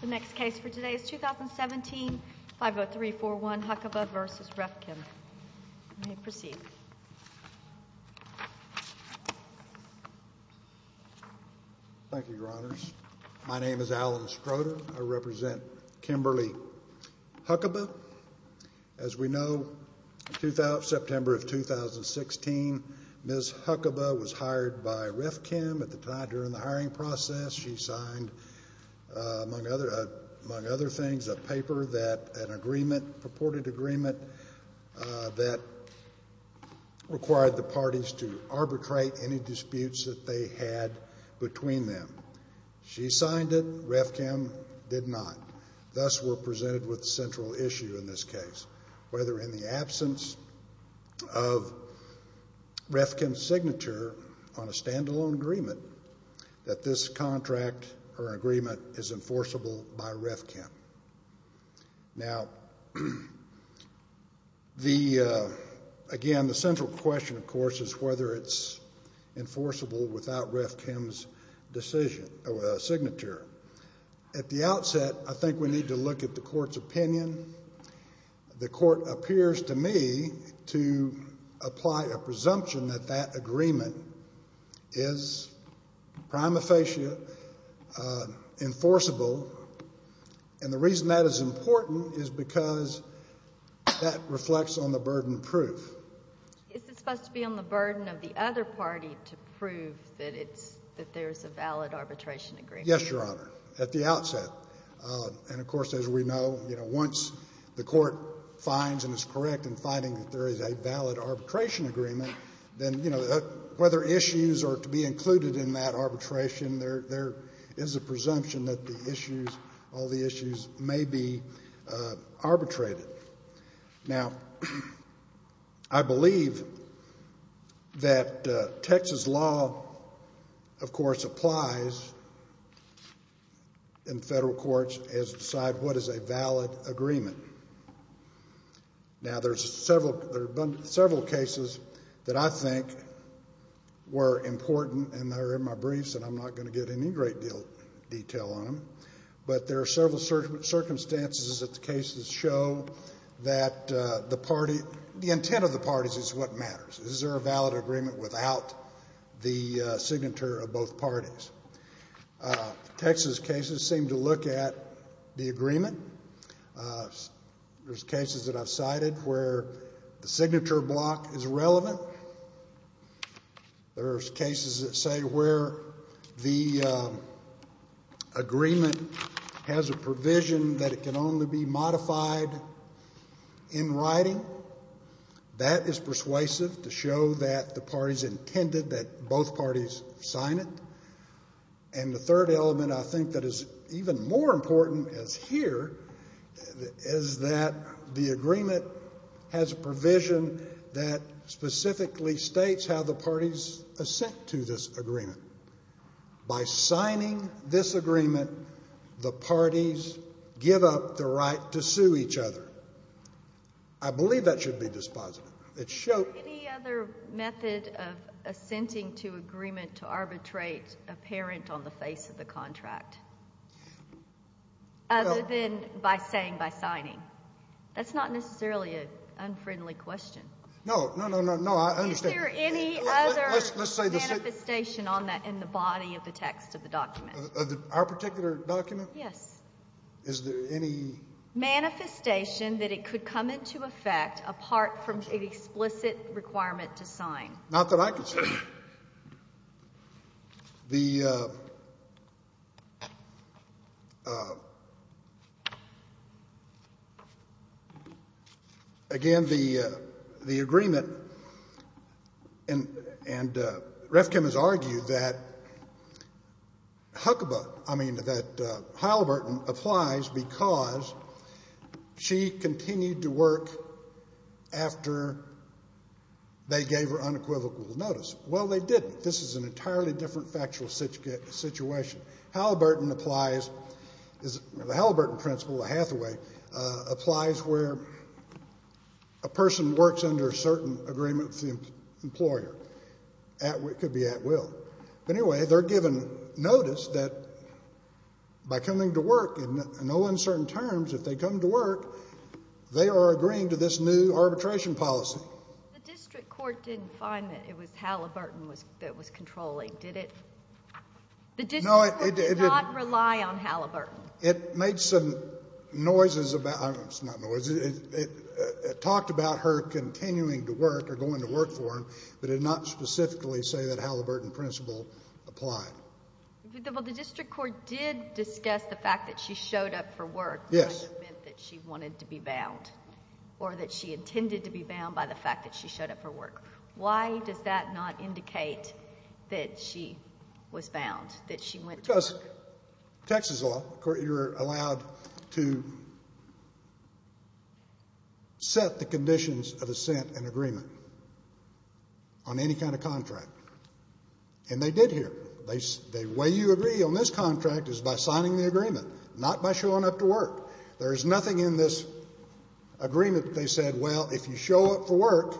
The next case for today is 2017-50341 Huckaba v. Ref-Chem. You may proceed. Thank you, Your Honors. My name is Alan Strota. I represent Kimberly Huckaba. As we know, September of 2016, Ms. Huckaba was hired by Ref-Chem at the time during the hiring process. She signed, among other things, a paper, a purported agreement that required the parties to arbitrate any disputes that they had between them. She signed it. Ref-Chem did not. Thus, we're presented with the central issue in this case, whether in the absence of Ref-Chem's signature on a stand-alone agreement, that this contract or agreement is enforceable by Ref-Chem. Now, again, the central question, of course, is whether it's enforceable without Ref-Chem's signature. At the outset, I think we need to look at the Court's opinion. The Court appears to me to apply a presumption that that agreement is prima facie enforceable, and the reason that is important is because that reflects on the burden of proof. Is it supposed to be on the burden of the other party to prove that there's a valid arbitration agreement? Yes, Your Honor, at the outset. And, of course, as we know, once the Court finds and is correct in finding that there is a valid arbitration agreement, then whether issues are to be included in that arbitration, there is a presumption that all the issues may be arbitrated. Now, I believe that Texas law, of course, applies in federal courts as to decide what is a valid agreement. Now, there's several cases that I think were important, and they're in my briefs, and I'm not going to get into any great detail on them, but there are several circumstances that the cases show that the party, the intent of the parties is what matters. Is there a valid agreement without the signature of both parties? Texas cases seem to look at the agreement. There's cases that I've cited where the signature block is relevant. There's cases that say where the agreement has a provision that it can only be modified in writing. That is persuasive to show that the parties intended that both parties sign it. And the third element I think that is even more important as here is that the agreement has a provision that specifically states how the parties assent to this agreement. By signing this agreement, the parties give up the right to sue each other. I believe that should be dispositive. Any other method of assenting to agreement to arbitrate apparent on the face of the contract other than by saying, by signing? That's not necessarily an unfriendly question. No, no, no, no, I understand. Is there any other manifestation on that in the body of the text of the document? Our particular document? Yes. Is there any? Manifestation that it could come into effect apart from the explicit requirement to sign. Not that I can say. The, again, the agreement, and Refkin has argued that Huckabee, I mean, that Heilbert applies because she continued to work after they gave her unequivocal notice. Well, they didn't. This is an entirely different factual situation. Heilbert applies, the Heilbert principle, the Hathaway, applies where a person works under a certain agreement with the employer. It could be at will. But anyway, they're given notice that by coming to work in no uncertain terms, if they come to work, they are agreeing to this new arbitration policy. The district court didn't find that it was Heilbert that was controlling, did it? No, it didn't. The district court did not rely on Heilbert. It made some noises about, not noises, it talked about her continuing to work or going to work for him, but it did not specifically say that Heilbert in principle applied. Well, the district court did discuss the fact that she showed up for work. Yes. In the event that she wanted to be bound or that she intended to be bound by the fact that she showed up for work. Why does that not indicate that she was bound, that she went to work? Texas law, you're allowed to set the conditions of assent and agreement on any kind of contract. And they did here. The way you agree on this contract is by signing the agreement, not by showing up to work. There is nothing in this agreement that they said, well, if you show up for work,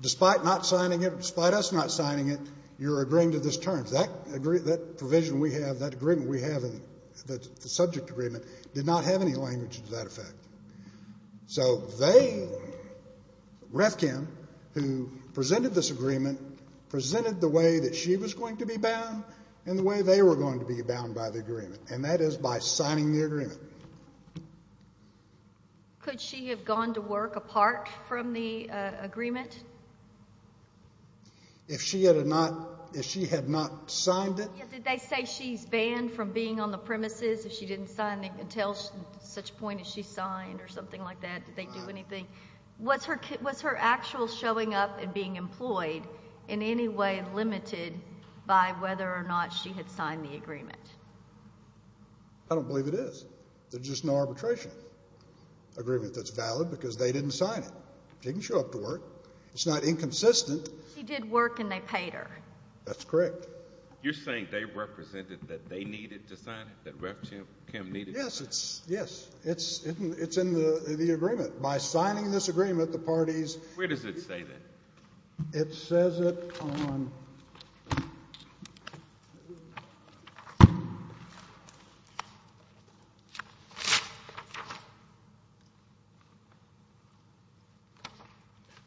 despite not signing it, despite us not signing it, you're agreeing to this term. That provision we have, that agreement we have, the subject agreement, did not have any language to that effect. So they, REFCAM, who presented this agreement, presented the way that she was going to be bound and the way they were going to be bound by the agreement, and that is by signing the agreement. Could she have gone to work apart from the agreement? If she had not signed it? Did they say she's banned from being on the premises if she didn't sign until such point as she signed or something like that? Did they do anything? Was her actual showing up and being employed in any way limited by whether or not she had signed the agreement? I don't believe it is. There's just no arbitration agreement that's valid because they didn't sign it. She didn't show up to work. It's not inconsistent. She did work and they paid her. That's correct. You're saying they represented that they needed to sign it, that REFCAM needed to sign it? Yes, it's in the agreement. By signing this agreement, the parties— Where does it say that? It says it on—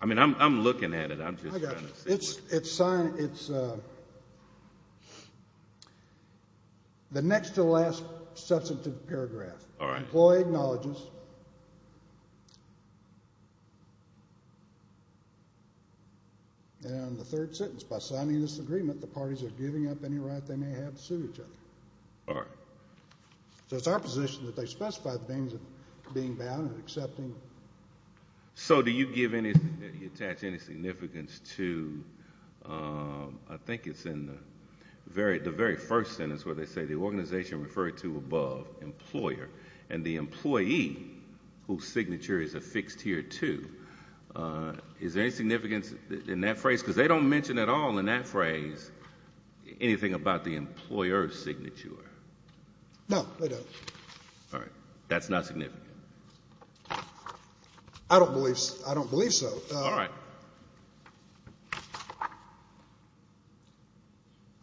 I mean, I'm looking at it. I'm just trying to see. It's signed. It's the next to last substantive paragraph. All right. Employee acknowledges. And the third sentence, by signing this agreement, the parties are giving up any right they may have to sue each other. All right. So it's our position that they specify the means of being banned and accepting. So do you give any—attach any significance to—I think it's in the very first sentence where they say the organization referred to above, or employer, and the employee whose signature is affixed here, too. Is there any significance in that phrase? Because they don't mention at all in that phrase anything about the employer's signature. No, they don't. All right. That's not significant. I don't believe so. All right. All right.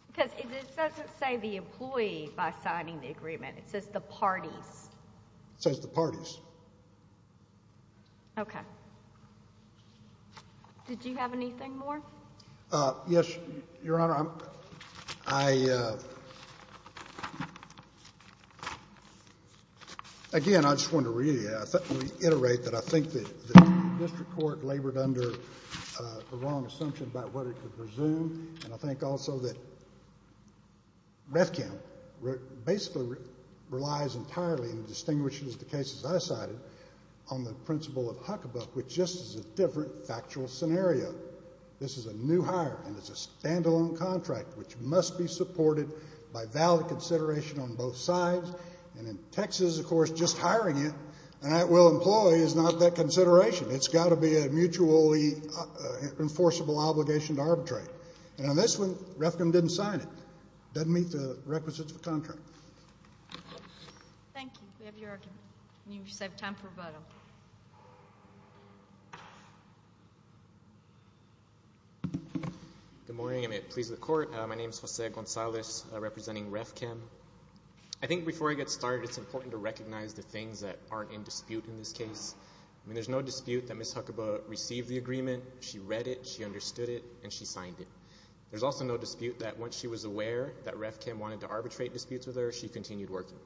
Because it doesn't say the employee by signing the agreement. It says the parties. It says the parties. Okay. Did you have anything more? Yes, Your Honor. I—again, I just wanted to reiterate that I think the district court labored under the wrong assumption about what it could presume, and I think also that Rethkamp basically relies entirely and distinguishes the cases I cited on the principle of Huckabuck, which just is a different factual scenario. This is a new hire, and it's a standalone contract, which must be supported by valid consideration on both sides. And in Texas, of course, just hiring it, and that will employ, is not that consideration. It's got to be a mutually enforceable obligation to arbitrate. And on this one, Rethkamp didn't sign it. It doesn't meet the requisites of the contract. Thank you. We have your argument, and you just have time for a vote. Good morning. I'm pleased with the court. My name is Jose Gonzalez, representing Rethkamp. I think before I get started, it's important to recognize the things that aren't in dispute in this case. I mean, there's no dispute that Ms. Huckabuck received the agreement. She read it, she understood it, and she signed it. There's also no dispute that once she was aware that Rethkamp wanted to arbitrate disputes with her, she continued working.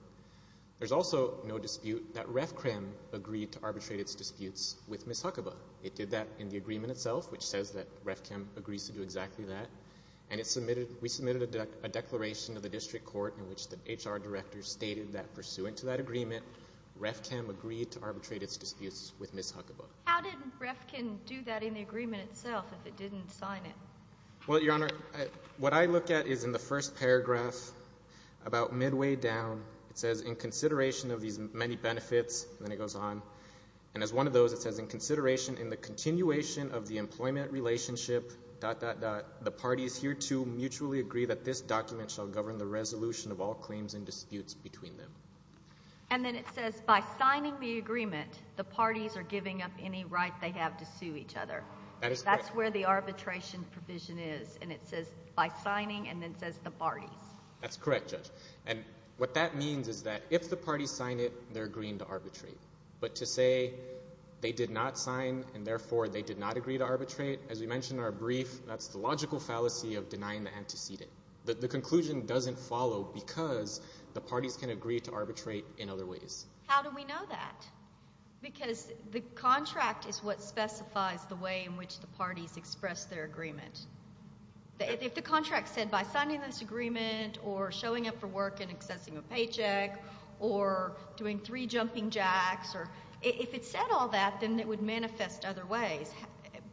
There's also no dispute that Rethkamp agreed to arbitrate its disputes with Ms. Huckabuck. It did that in the agreement itself, which says that Rethkamp agrees to do exactly that, and we submitted a declaration to the district court in which the HR director stated that, pursuant to that agreement, Rethkamp agreed to arbitrate its disputes with Ms. Huckabuck. How did Rethkamp do that in the agreement itself if it didn't sign it? Well, Your Honor, what I look at is in the first paragraph, about midway down, it says, in consideration of these many benefits, and then it goes on, and as one of those, it says, in consideration in the continuation of the employment relationship, dot, dot, dot, the parties hereto mutually agree that this document shall govern the resolution of all claims and disputes between them. And then it says, by signing the agreement, the parties are giving up any right they have to sue each other. That's where the arbitration provision is, and it says, by signing, and then it says, the parties. That's correct, Judge. And what that means is that if the parties sign it, they're agreeing to arbitrate. But to say they did not sign and therefore they did not agree to arbitrate, as we mentioned in our brief, that's the logical fallacy of denying the antecedent. The conclusion doesn't follow because the parties can agree to arbitrate in other ways. How do we know that? Because the contract is what specifies the way in which the parties express their agreement. If the contract said, by signing this agreement or showing up for work and accessing a paycheck or doing three jumping jacks, if it said all that, then it would manifest other ways.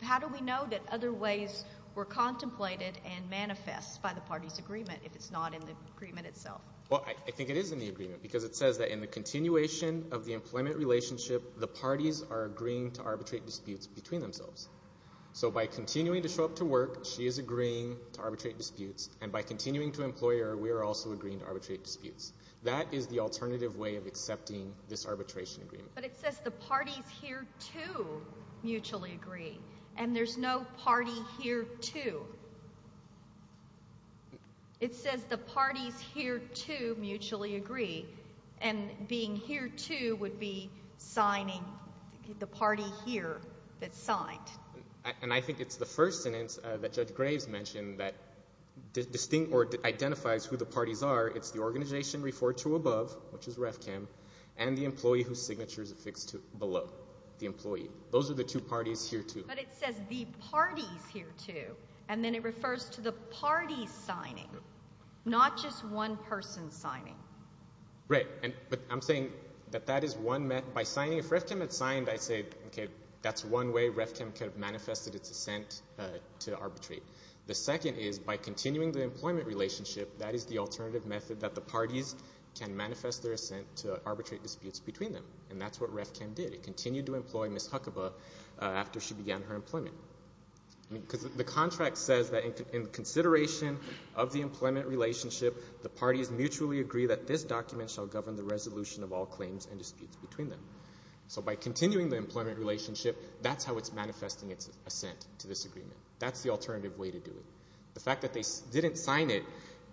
How do we know that other ways were contemplated and manifest by the parties' agreement if it's not in the agreement itself? Well, I think it is in the agreement because it says that in the continuation of the employment relationship, the parties are agreeing to arbitrate disputes between themselves. So by continuing to show up to work, she is agreeing to arbitrate disputes, and by continuing to employ her, we are also agreeing to arbitrate disputes. That is the alternative way of accepting this arbitration agreement. But it says the parties here, too, mutually agree, and there's no party here, too. It says the parties here, too, mutually agree, and being here, too, would be signing the party here that signed. And I think it's the first sentence that Judge Graves mentioned that identifies who the parties are. It's the organization referred to above, which is REFCAM, and the employee whose signature is affixed below, the employee. Those are the two parties here, too. But it says the parties here, too, and then it refers to the parties signing, not just one person signing. Right. But I'm saying that that is one method. By signing, if REFCAM had signed, I'd say, okay, that's one way REFCAM could have manifested its assent to arbitrate. The second is by continuing the employment relationship, that is the alternative method that the parties can manifest their assent to arbitrate disputes between them, and that's what REFCAM did. It continued to employ Ms. Huckabee after she began her employment. Because the contract says that in consideration of the employment relationship, the parties mutually agree that this document shall govern the resolution of all claims and disputes between them. So by continuing the employment relationship, that's how it's manifesting its assent to this agreement. That's the alternative way to do it. The fact that they didn't sign it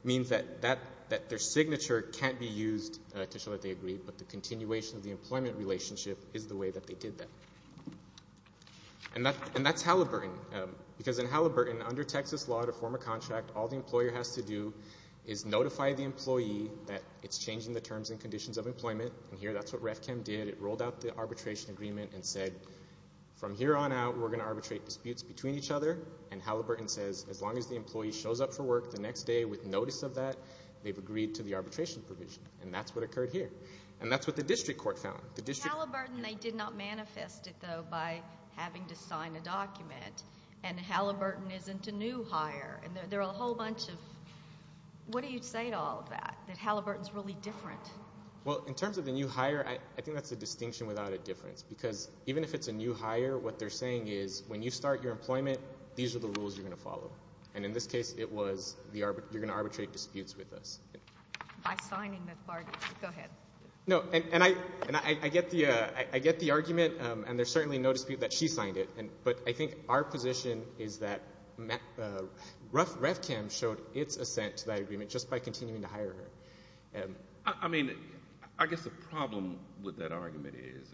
means that their signature can't be used to show that they agreed, but the continuation of the employment relationship is the way that they did that. And that's Halliburton, because in Halliburton, under Texas law, to form a contract, all the employer has to do is notify the employee that it's changing the terms and conditions of employment, and here that's what REFCAM did. It rolled out the arbitration agreement and said, from here on out, we're going to arbitrate disputes between each other, and Halliburton says, as long as the employee shows up for work the next day with notice of that, they've agreed to the arbitration provision, and that's what occurred here, and that's what the district court found. In Halliburton, they did not manifest it, though, by having to sign a document, and Halliburton isn't a new hire, and there are a whole bunch of – what do you say to all of that, that Halliburton's really different? Well, in terms of the new hire, I think that's a distinction without a difference, because even if it's a new hire, what they're saying is when you start your employment, these are the rules you're going to follow, and in this case, it was you're going to arbitrate disputes with us. By signing the part, go ahead. No, and I get the argument, and there's certainly no dispute that she signed it, but I think our position is that REFCAM showed its assent to that agreement just by continuing to hire her. I mean, I guess the problem with that argument is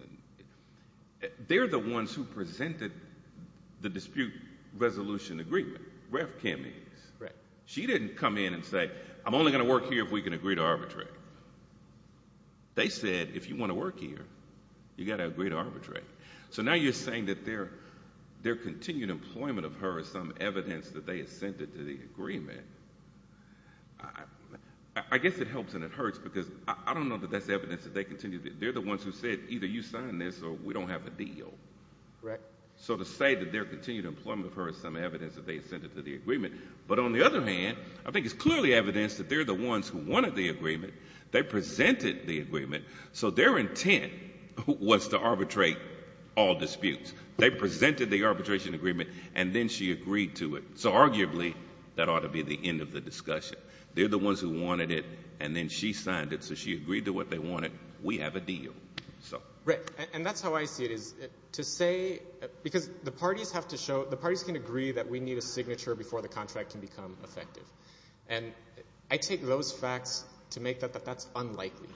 they're the ones who presented the dispute resolution agreement, REFCAM is. She didn't come in and say I'm only going to work here if we can agree to arbitrate. They said if you want to work here, you've got to agree to arbitrate. So now you're saying that their continued employment of her is some evidence that they assented to the agreement. I guess it helps and it hurts, because I don't know that that's evidence that they continued. They're the ones who said either you sign this or we don't have a deal. So to say that their continued employment of her is some evidence that they assented to the agreement, but on the other hand, I think it's clearly evidence that they're the ones who wanted the agreement. They presented the agreement, so their intent was to arbitrate all disputes. They presented the arbitration agreement, and then she agreed to it. So arguably, that ought to be the end of the discussion. They're the ones who wanted it, and then she signed it, so she agreed to what they wanted. We have a deal. Right, and that's how I see it, is to say, because the parties have to show, the parties can agree that we need a signature before the contract can become effective. And I take those facts to make that that's unlikely.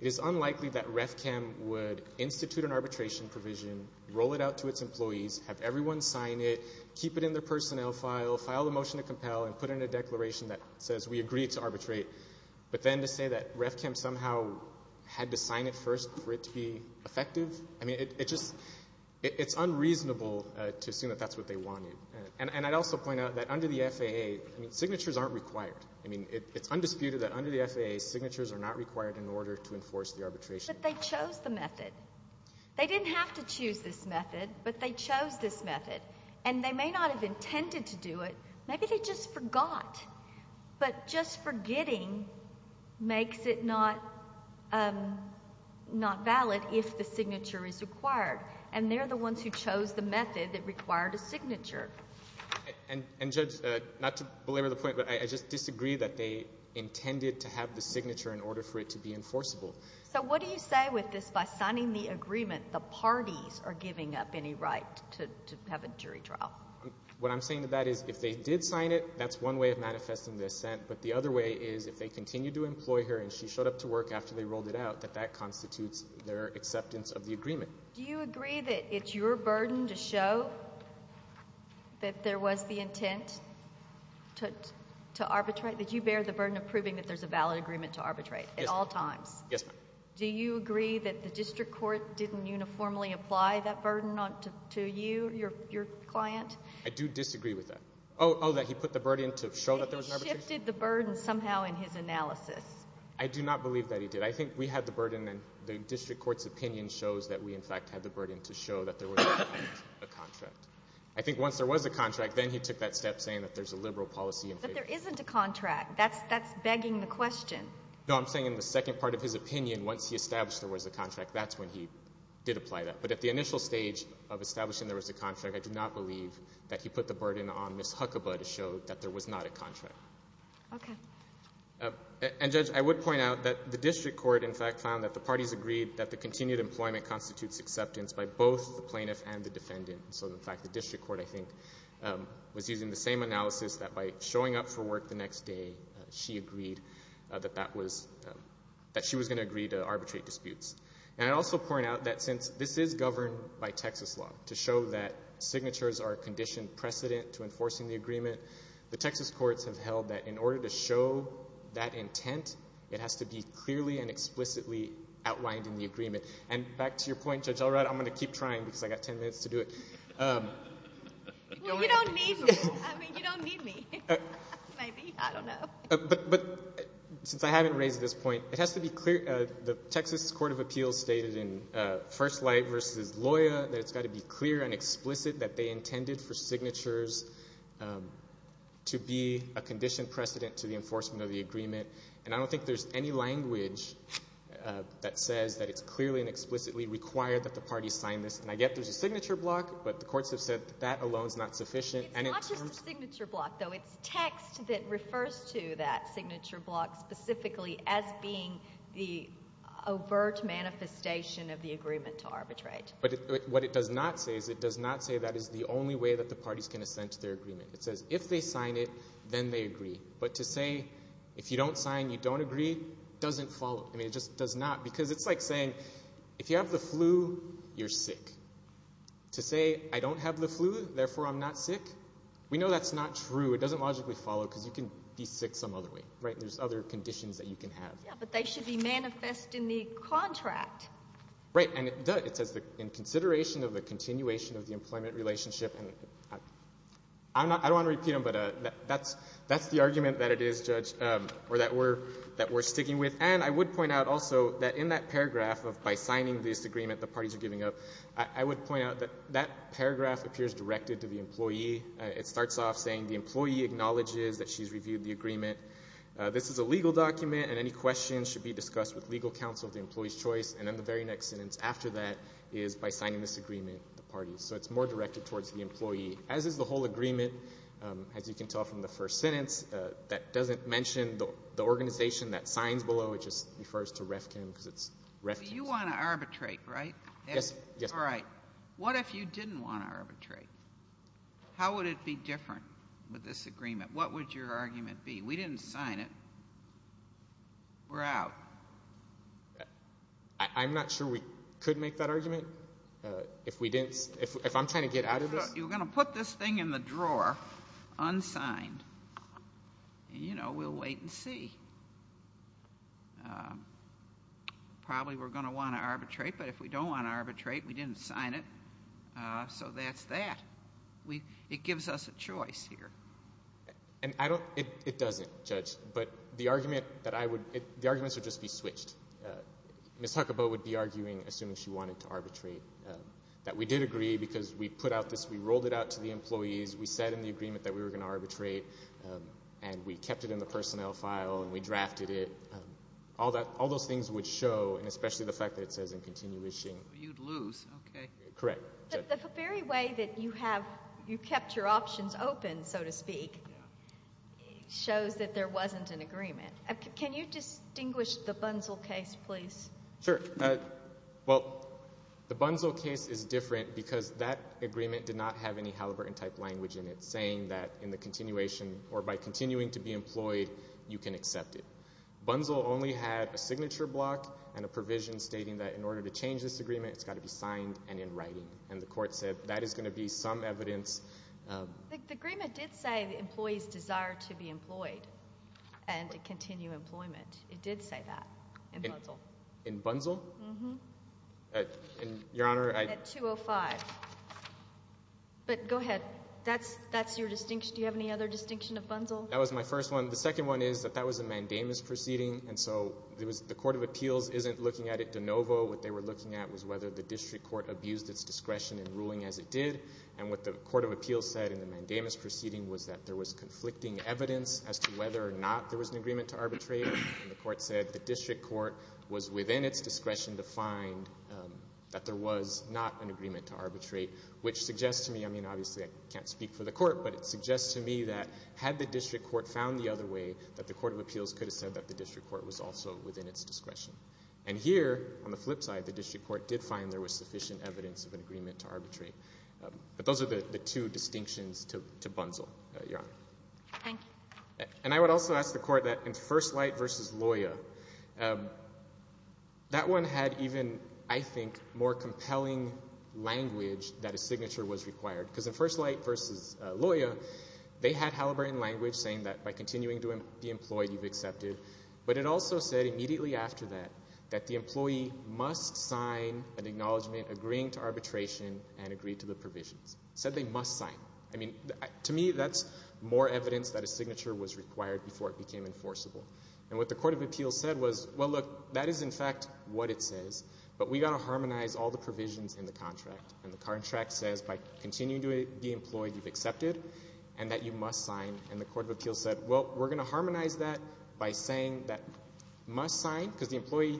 It is unlikely that REFCAM would institute an arbitration provision, roll it out to its employees, have everyone sign it, keep it in their personnel file, file a motion to compel, and put in a declaration that says we agree to arbitrate. But then to say that REFCAM somehow had to sign it first for it to be effective, I mean, it's unreasonable to assume that that's what they wanted. And I'd also point out that under the FAA, signatures aren't required. I mean, it's undisputed that under the FAA, signatures are not required in order to enforce the arbitration. But they chose the method. They didn't have to choose this method, but they chose this method. And they may not have intended to do it. Maybe they just forgot. But just forgetting makes it not valid if the signature is required. And they're the ones who chose the method that required a signature. And, Judge, not to belabor the point, but I just disagree that they intended to have the signature in order for it to be enforceable. So what do you say with this, by signing the agreement, the parties are giving up any right to have a jury trial? What I'm saying to that is if they did sign it, that's one way of manifesting the assent. But the other way is if they continue to employ her and she showed up to work after they rolled it out, that that constitutes their acceptance of the agreement. Do you agree that it's your burden to show that there was the intent to arbitrate? That you bear the burden of proving that there's a valid agreement to arbitrate at all times? Yes, ma'am. Do you agree that the district court didn't uniformly apply that burden to you, your client? I do disagree with that. Oh, that he put the burden to show that there was an arbitration? He shifted the burden somehow in his analysis. I do not believe that he did. I think we had the burden and the district court's opinion shows that we, in fact, had the burden to show that there was a contract. I think once there was a contract, then he took that step saying that there's a liberal policy in favor. But there isn't a contract. That's begging the question. No, I'm saying in the second part of his opinion, once he established there was a contract, that's when he did apply that. But at the initial stage of establishing there was a contract, I do not believe that he put the burden on Ms. Huckabee to show that there was not a contract. Okay. And, Judge, I would point out that the district court, in fact, found that the parties agreed that the continued employment constitutes acceptance by both the plaintiff and the defendant. So, in fact, the district court, I think, was using the same analysis that by showing up for work the next day, she agreed that she was going to agree to arbitrate disputes. And I'd also point out that since this is governed by Texas law, to show that signatures are a conditioned precedent to enforcing the agreement, the Texas courts have held that in order to show that intent, it has to be clearly and explicitly outlined in the agreement. And back to your point, Judge Elrod, I'm going to keep trying because I've got ten minutes to do it. Well, you don't need me. I mean, you don't need me. Maybe. I don't know. But since I haven't raised this point, it has to be clear. The Texas Court of Appeals stated in First Light v. Loya that it's got to be clear and explicit that they intended for signatures to be a conditioned precedent to the enforcement of the agreement. And I don't think there's any language that says that it's clearly and explicitly required that the parties sign this. And I get there's a signature block, but the courts have said that that alone is not sufficient. It's not just a signature block, though. It's text that refers to that signature block specifically as being the overt manifestation of the agreement to arbitrate. But what it does not say is it does not say that is the only way that the parties can ascend to their agreement. It says if they sign it, then they agree. But to say if you don't sign, you don't agree doesn't follow. I mean, it just does not because it's like saying if you have the flu, you're sick. To say I don't have the flu, therefore I'm not sick, we know that's not true. It doesn't logically follow because you can be sick some other way, right? There's other conditions that you can have. Yeah, but they should be manifest in the contract. Right, and it does. It says in consideration of the continuation of the employment relationship. I don't want to repeat them, but that's the argument that it is, Judge, or that we're sticking with. And I would point out also that in that paragraph of by signing this agreement the parties are giving up, I would point out that that paragraph appears directed to the employee. It starts off saying the employee acknowledges that she's reviewed the agreement. This is a legal document, and any questions should be discussed with legal counsel of the employee's choice. And then the very next sentence after that is by signing this agreement, the parties. So it's more directed towards the employee, as is the whole agreement. As you can tell from the first sentence, that doesn't mention the organization that signs below, it just refers to REFCON because it's REFCON. You want to arbitrate, right? Yes. All right. What if you didn't want to arbitrate? How would it be different with this agreement? What would your argument be? We didn't sign it. We're out. I'm not sure we could make that argument if I'm trying to get out of this. You're going to put this thing in the drawer unsigned, and, you know, we'll wait and see. Probably we're going to want to arbitrate, but if we don't want to arbitrate, we didn't sign it. So that's that. It gives us a choice here. It doesn't, Judge, but the arguments would just be switched. Ms. Huckaboe would be arguing, assuming she wanted to arbitrate, that we did agree because we put out this, we rolled it out to the employees, we said in the agreement that we were going to arbitrate, and we kept it in the personnel file, and we drafted it. All those things would show, and especially the fact that it says in continuation. You'd lose. Okay. Correct. The very way that you kept your options open, so to speak, shows that there wasn't an agreement. Can you distinguish the Bunzel case, please? Sure. Well, the Bunzel case is different because that agreement did not have any Halliburton-type language in it saying that in the continuation, or by continuing to be employed, you can accept it. Bunzel only had a signature block and a provision stating that in order to change this agreement, it's got to be signed and in writing, and the court said that is going to be some evidence. The agreement did say the employees desire to be employed and to continue employment. It did say that in Bunzel. In Bunzel? Mm-hmm. Your Honor. At 205. But go ahead. That's your distinction. Do you have any other distinction of Bunzel? That was my first one. The second one is that that was a mandamus proceeding, and so the court of appeals isn't looking at it de novo. What they were looking at was whether the district court abused its discretion in ruling as it did, and what the court of appeals said in the mandamus proceeding was that there was conflicting evidence as to whether or not there was an agreement to arbitrate, and the court said the district court was within its discretion to find that there was not an agreement to arbitrate, which suggests to me, I mean, obviously I can't speak for the court, but it suggests to me that had the district court found the other way, that the court of appeals could have said that the district court was also within its discretion. And here, on the flip side, the district court did find there was sufficient evidence of an agreement to arbitrate. But those are the two distinctions to Bunzel, Your Honor. Thank you. And I would also ask the court that in First Light v. Loya, that one had even, I think, more compelling language that a signature was required, because in First Light v. Loya, they had Halliburton language saying that by continuing to be employed, you've accepted, but it also said immediately after that that the employee must sign an acknowledgement agreeing to arbitration and agreed to the provisions. It said they must sign. I mean, to me, that's more evidence that a signature was required before it became enforceable. And what the court of appeals said was, well, look, that is in fact what it says, but we've got to harmonize all the provisions in the contract. And the contract says by continuing to be employed, you've accepted and that you must sign. And the court of appeals said, well, we're going to harmonize that by saying that must sign, because the employee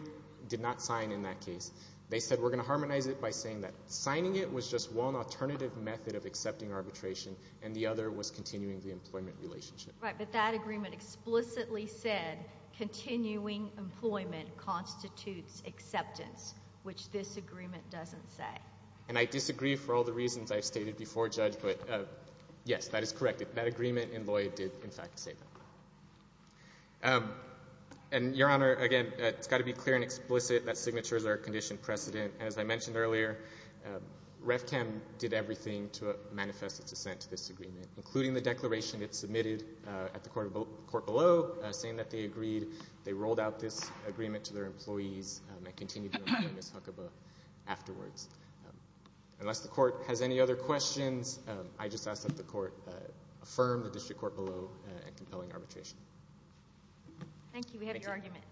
did not sign in that case. They said we're going to harmonize it by saying that signing it was just one alternative method of accepting arbitration and the other was continuing the employment relationship. Right, but that agreement explicitly said continuing employment constitutes acceptance, which this agreement doesn't say. And I disagree for all the reasons I've stated before, Judge, but, yes, that is correct. That agreement in Loya did, in fact, say that. And, Your Honor, again, it's got to be clear and explicit that signatures are a conditioned precedent. As I mentioned earlier, REFCAM did everything to manifest its dissent to this agreement, including the declaration it submitted at the court below saying that they agreed. They rolled out this agreement to their employees and continued to employ Ms. Huckabee afterwards. Unless the court has any other questions, I just ask that the court affirm the district court below in compelling arbitration. Thank you. We have your argument.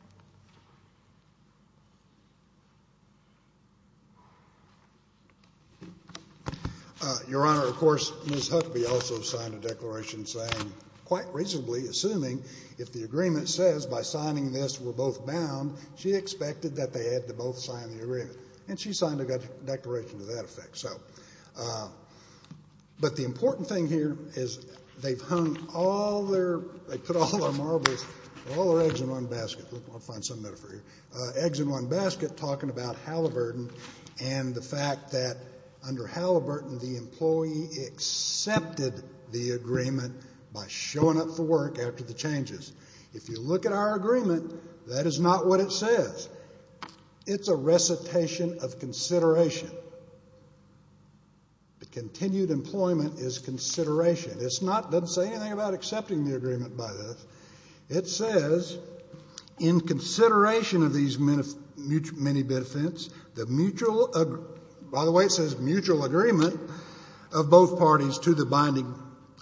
Your Honor, of course, Ms. Huckabee also signed a declaration saying, quite reasonably assuming if the agreement says by signing this we're both bound, she expected that they had to both sign the agreement. And she signed a declaration to that effect. But the important thing here is they've hung all their, they put all their marbles, all their eggs in one basket. I'll find some metaphor here. Eggs in one basket talking about Halliburton and the fact that under Halliburton, the employee accepted the agreement by showing up for work after the changes. If you look at our agreement, that is not what it says. It's a recitation of consideration. The continued employment is consideration. It's not, doesn't say anything about accepting the agreement by this. It says, in consideration of these many benefits, the mutual, by the way, it says mutual agreement of both parties to the binding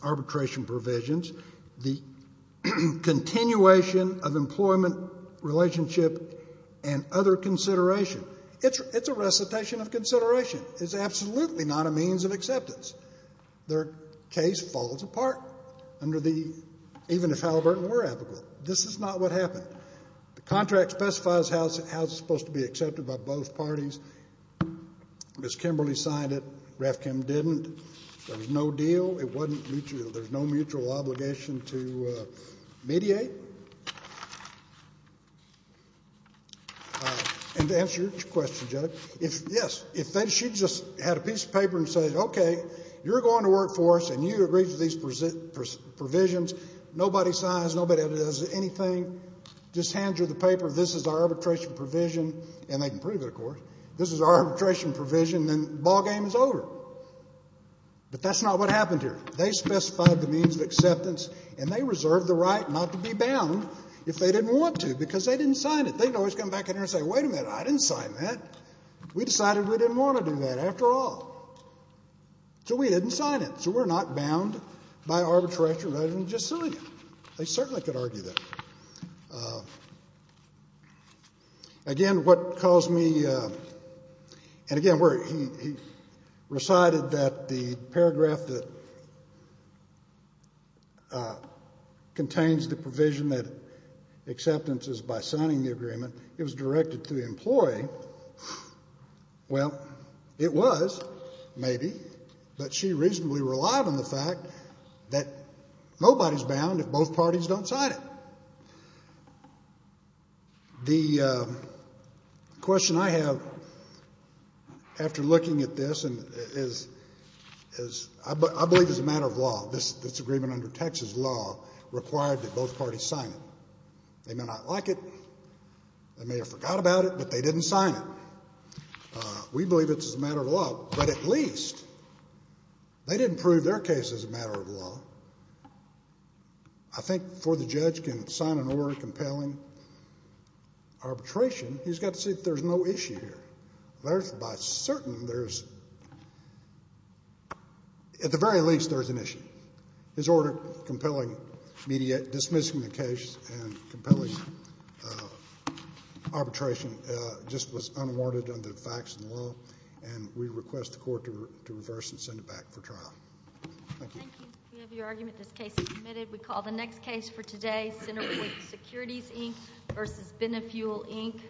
arbitration provisions, the continuation of employment relationship and other consideration. It's a recitation of consideration. It's absolutely not a means of acceptance. Their case falls apart under the, even if Halliburton were applicable. This is not what happened. The contract specifies how it's supposed to be accepted by both parties. Ms. Kimberly signed it. RAF Kim didn't. There was no deal. It wasn't mutual. There's no mutual obligation to mediate. And to answer your question, Judge, if, yes, if she just had a piece of paper and said, okay, you're going to work for us and you agree to these provisions, nobody signs, nobody does anything, just hands you the paper, this is our arbitration provision, and they can prove it, of course, this is our arbitration provision, then the ballgame is over. But that's not what happened here. They specified the means of acceptance, and they reserved the right not to be bound if they didn't want to because they didn't sign it. They could always come back in here and say, wait a minute, I didn't sign that. We decided we didn't want to do that after all. So we didn't sign it. So we're not bound by arbitration provision, we're just suing it. They certainly could argue that. Again, what caused me, and again, he recited that the paragraph that contains the provision that acceptance is by signing the agreement, it was directed to the employee. Well, it was maybe, but she reasonably relied on the fact that nobody's bound if both parties don't sign it. The question I have, after looking at this, is I believe it's a matter of law. This agreement under Texas law required that both parties sign it. They may not like it, they may have forgot about it, but they didn't sign it. We believe it's a matter of law, but at least they didn't prove their case is a matter of law. I think before the judge can sign an order compelling arbitration, he's got to see that there's no issue here. There's, by certain, there's, at the very least, there's an issue. His order compelling dismissing the case and compelling arbitration just was unwarranted under the facts and the law, and we request the court to reverse and send it back for trial. Thank you. Thank you. We have your argument. This case is submitted. We call the next case for today, Center for Securities, Inc. versus Benefuel, Inc.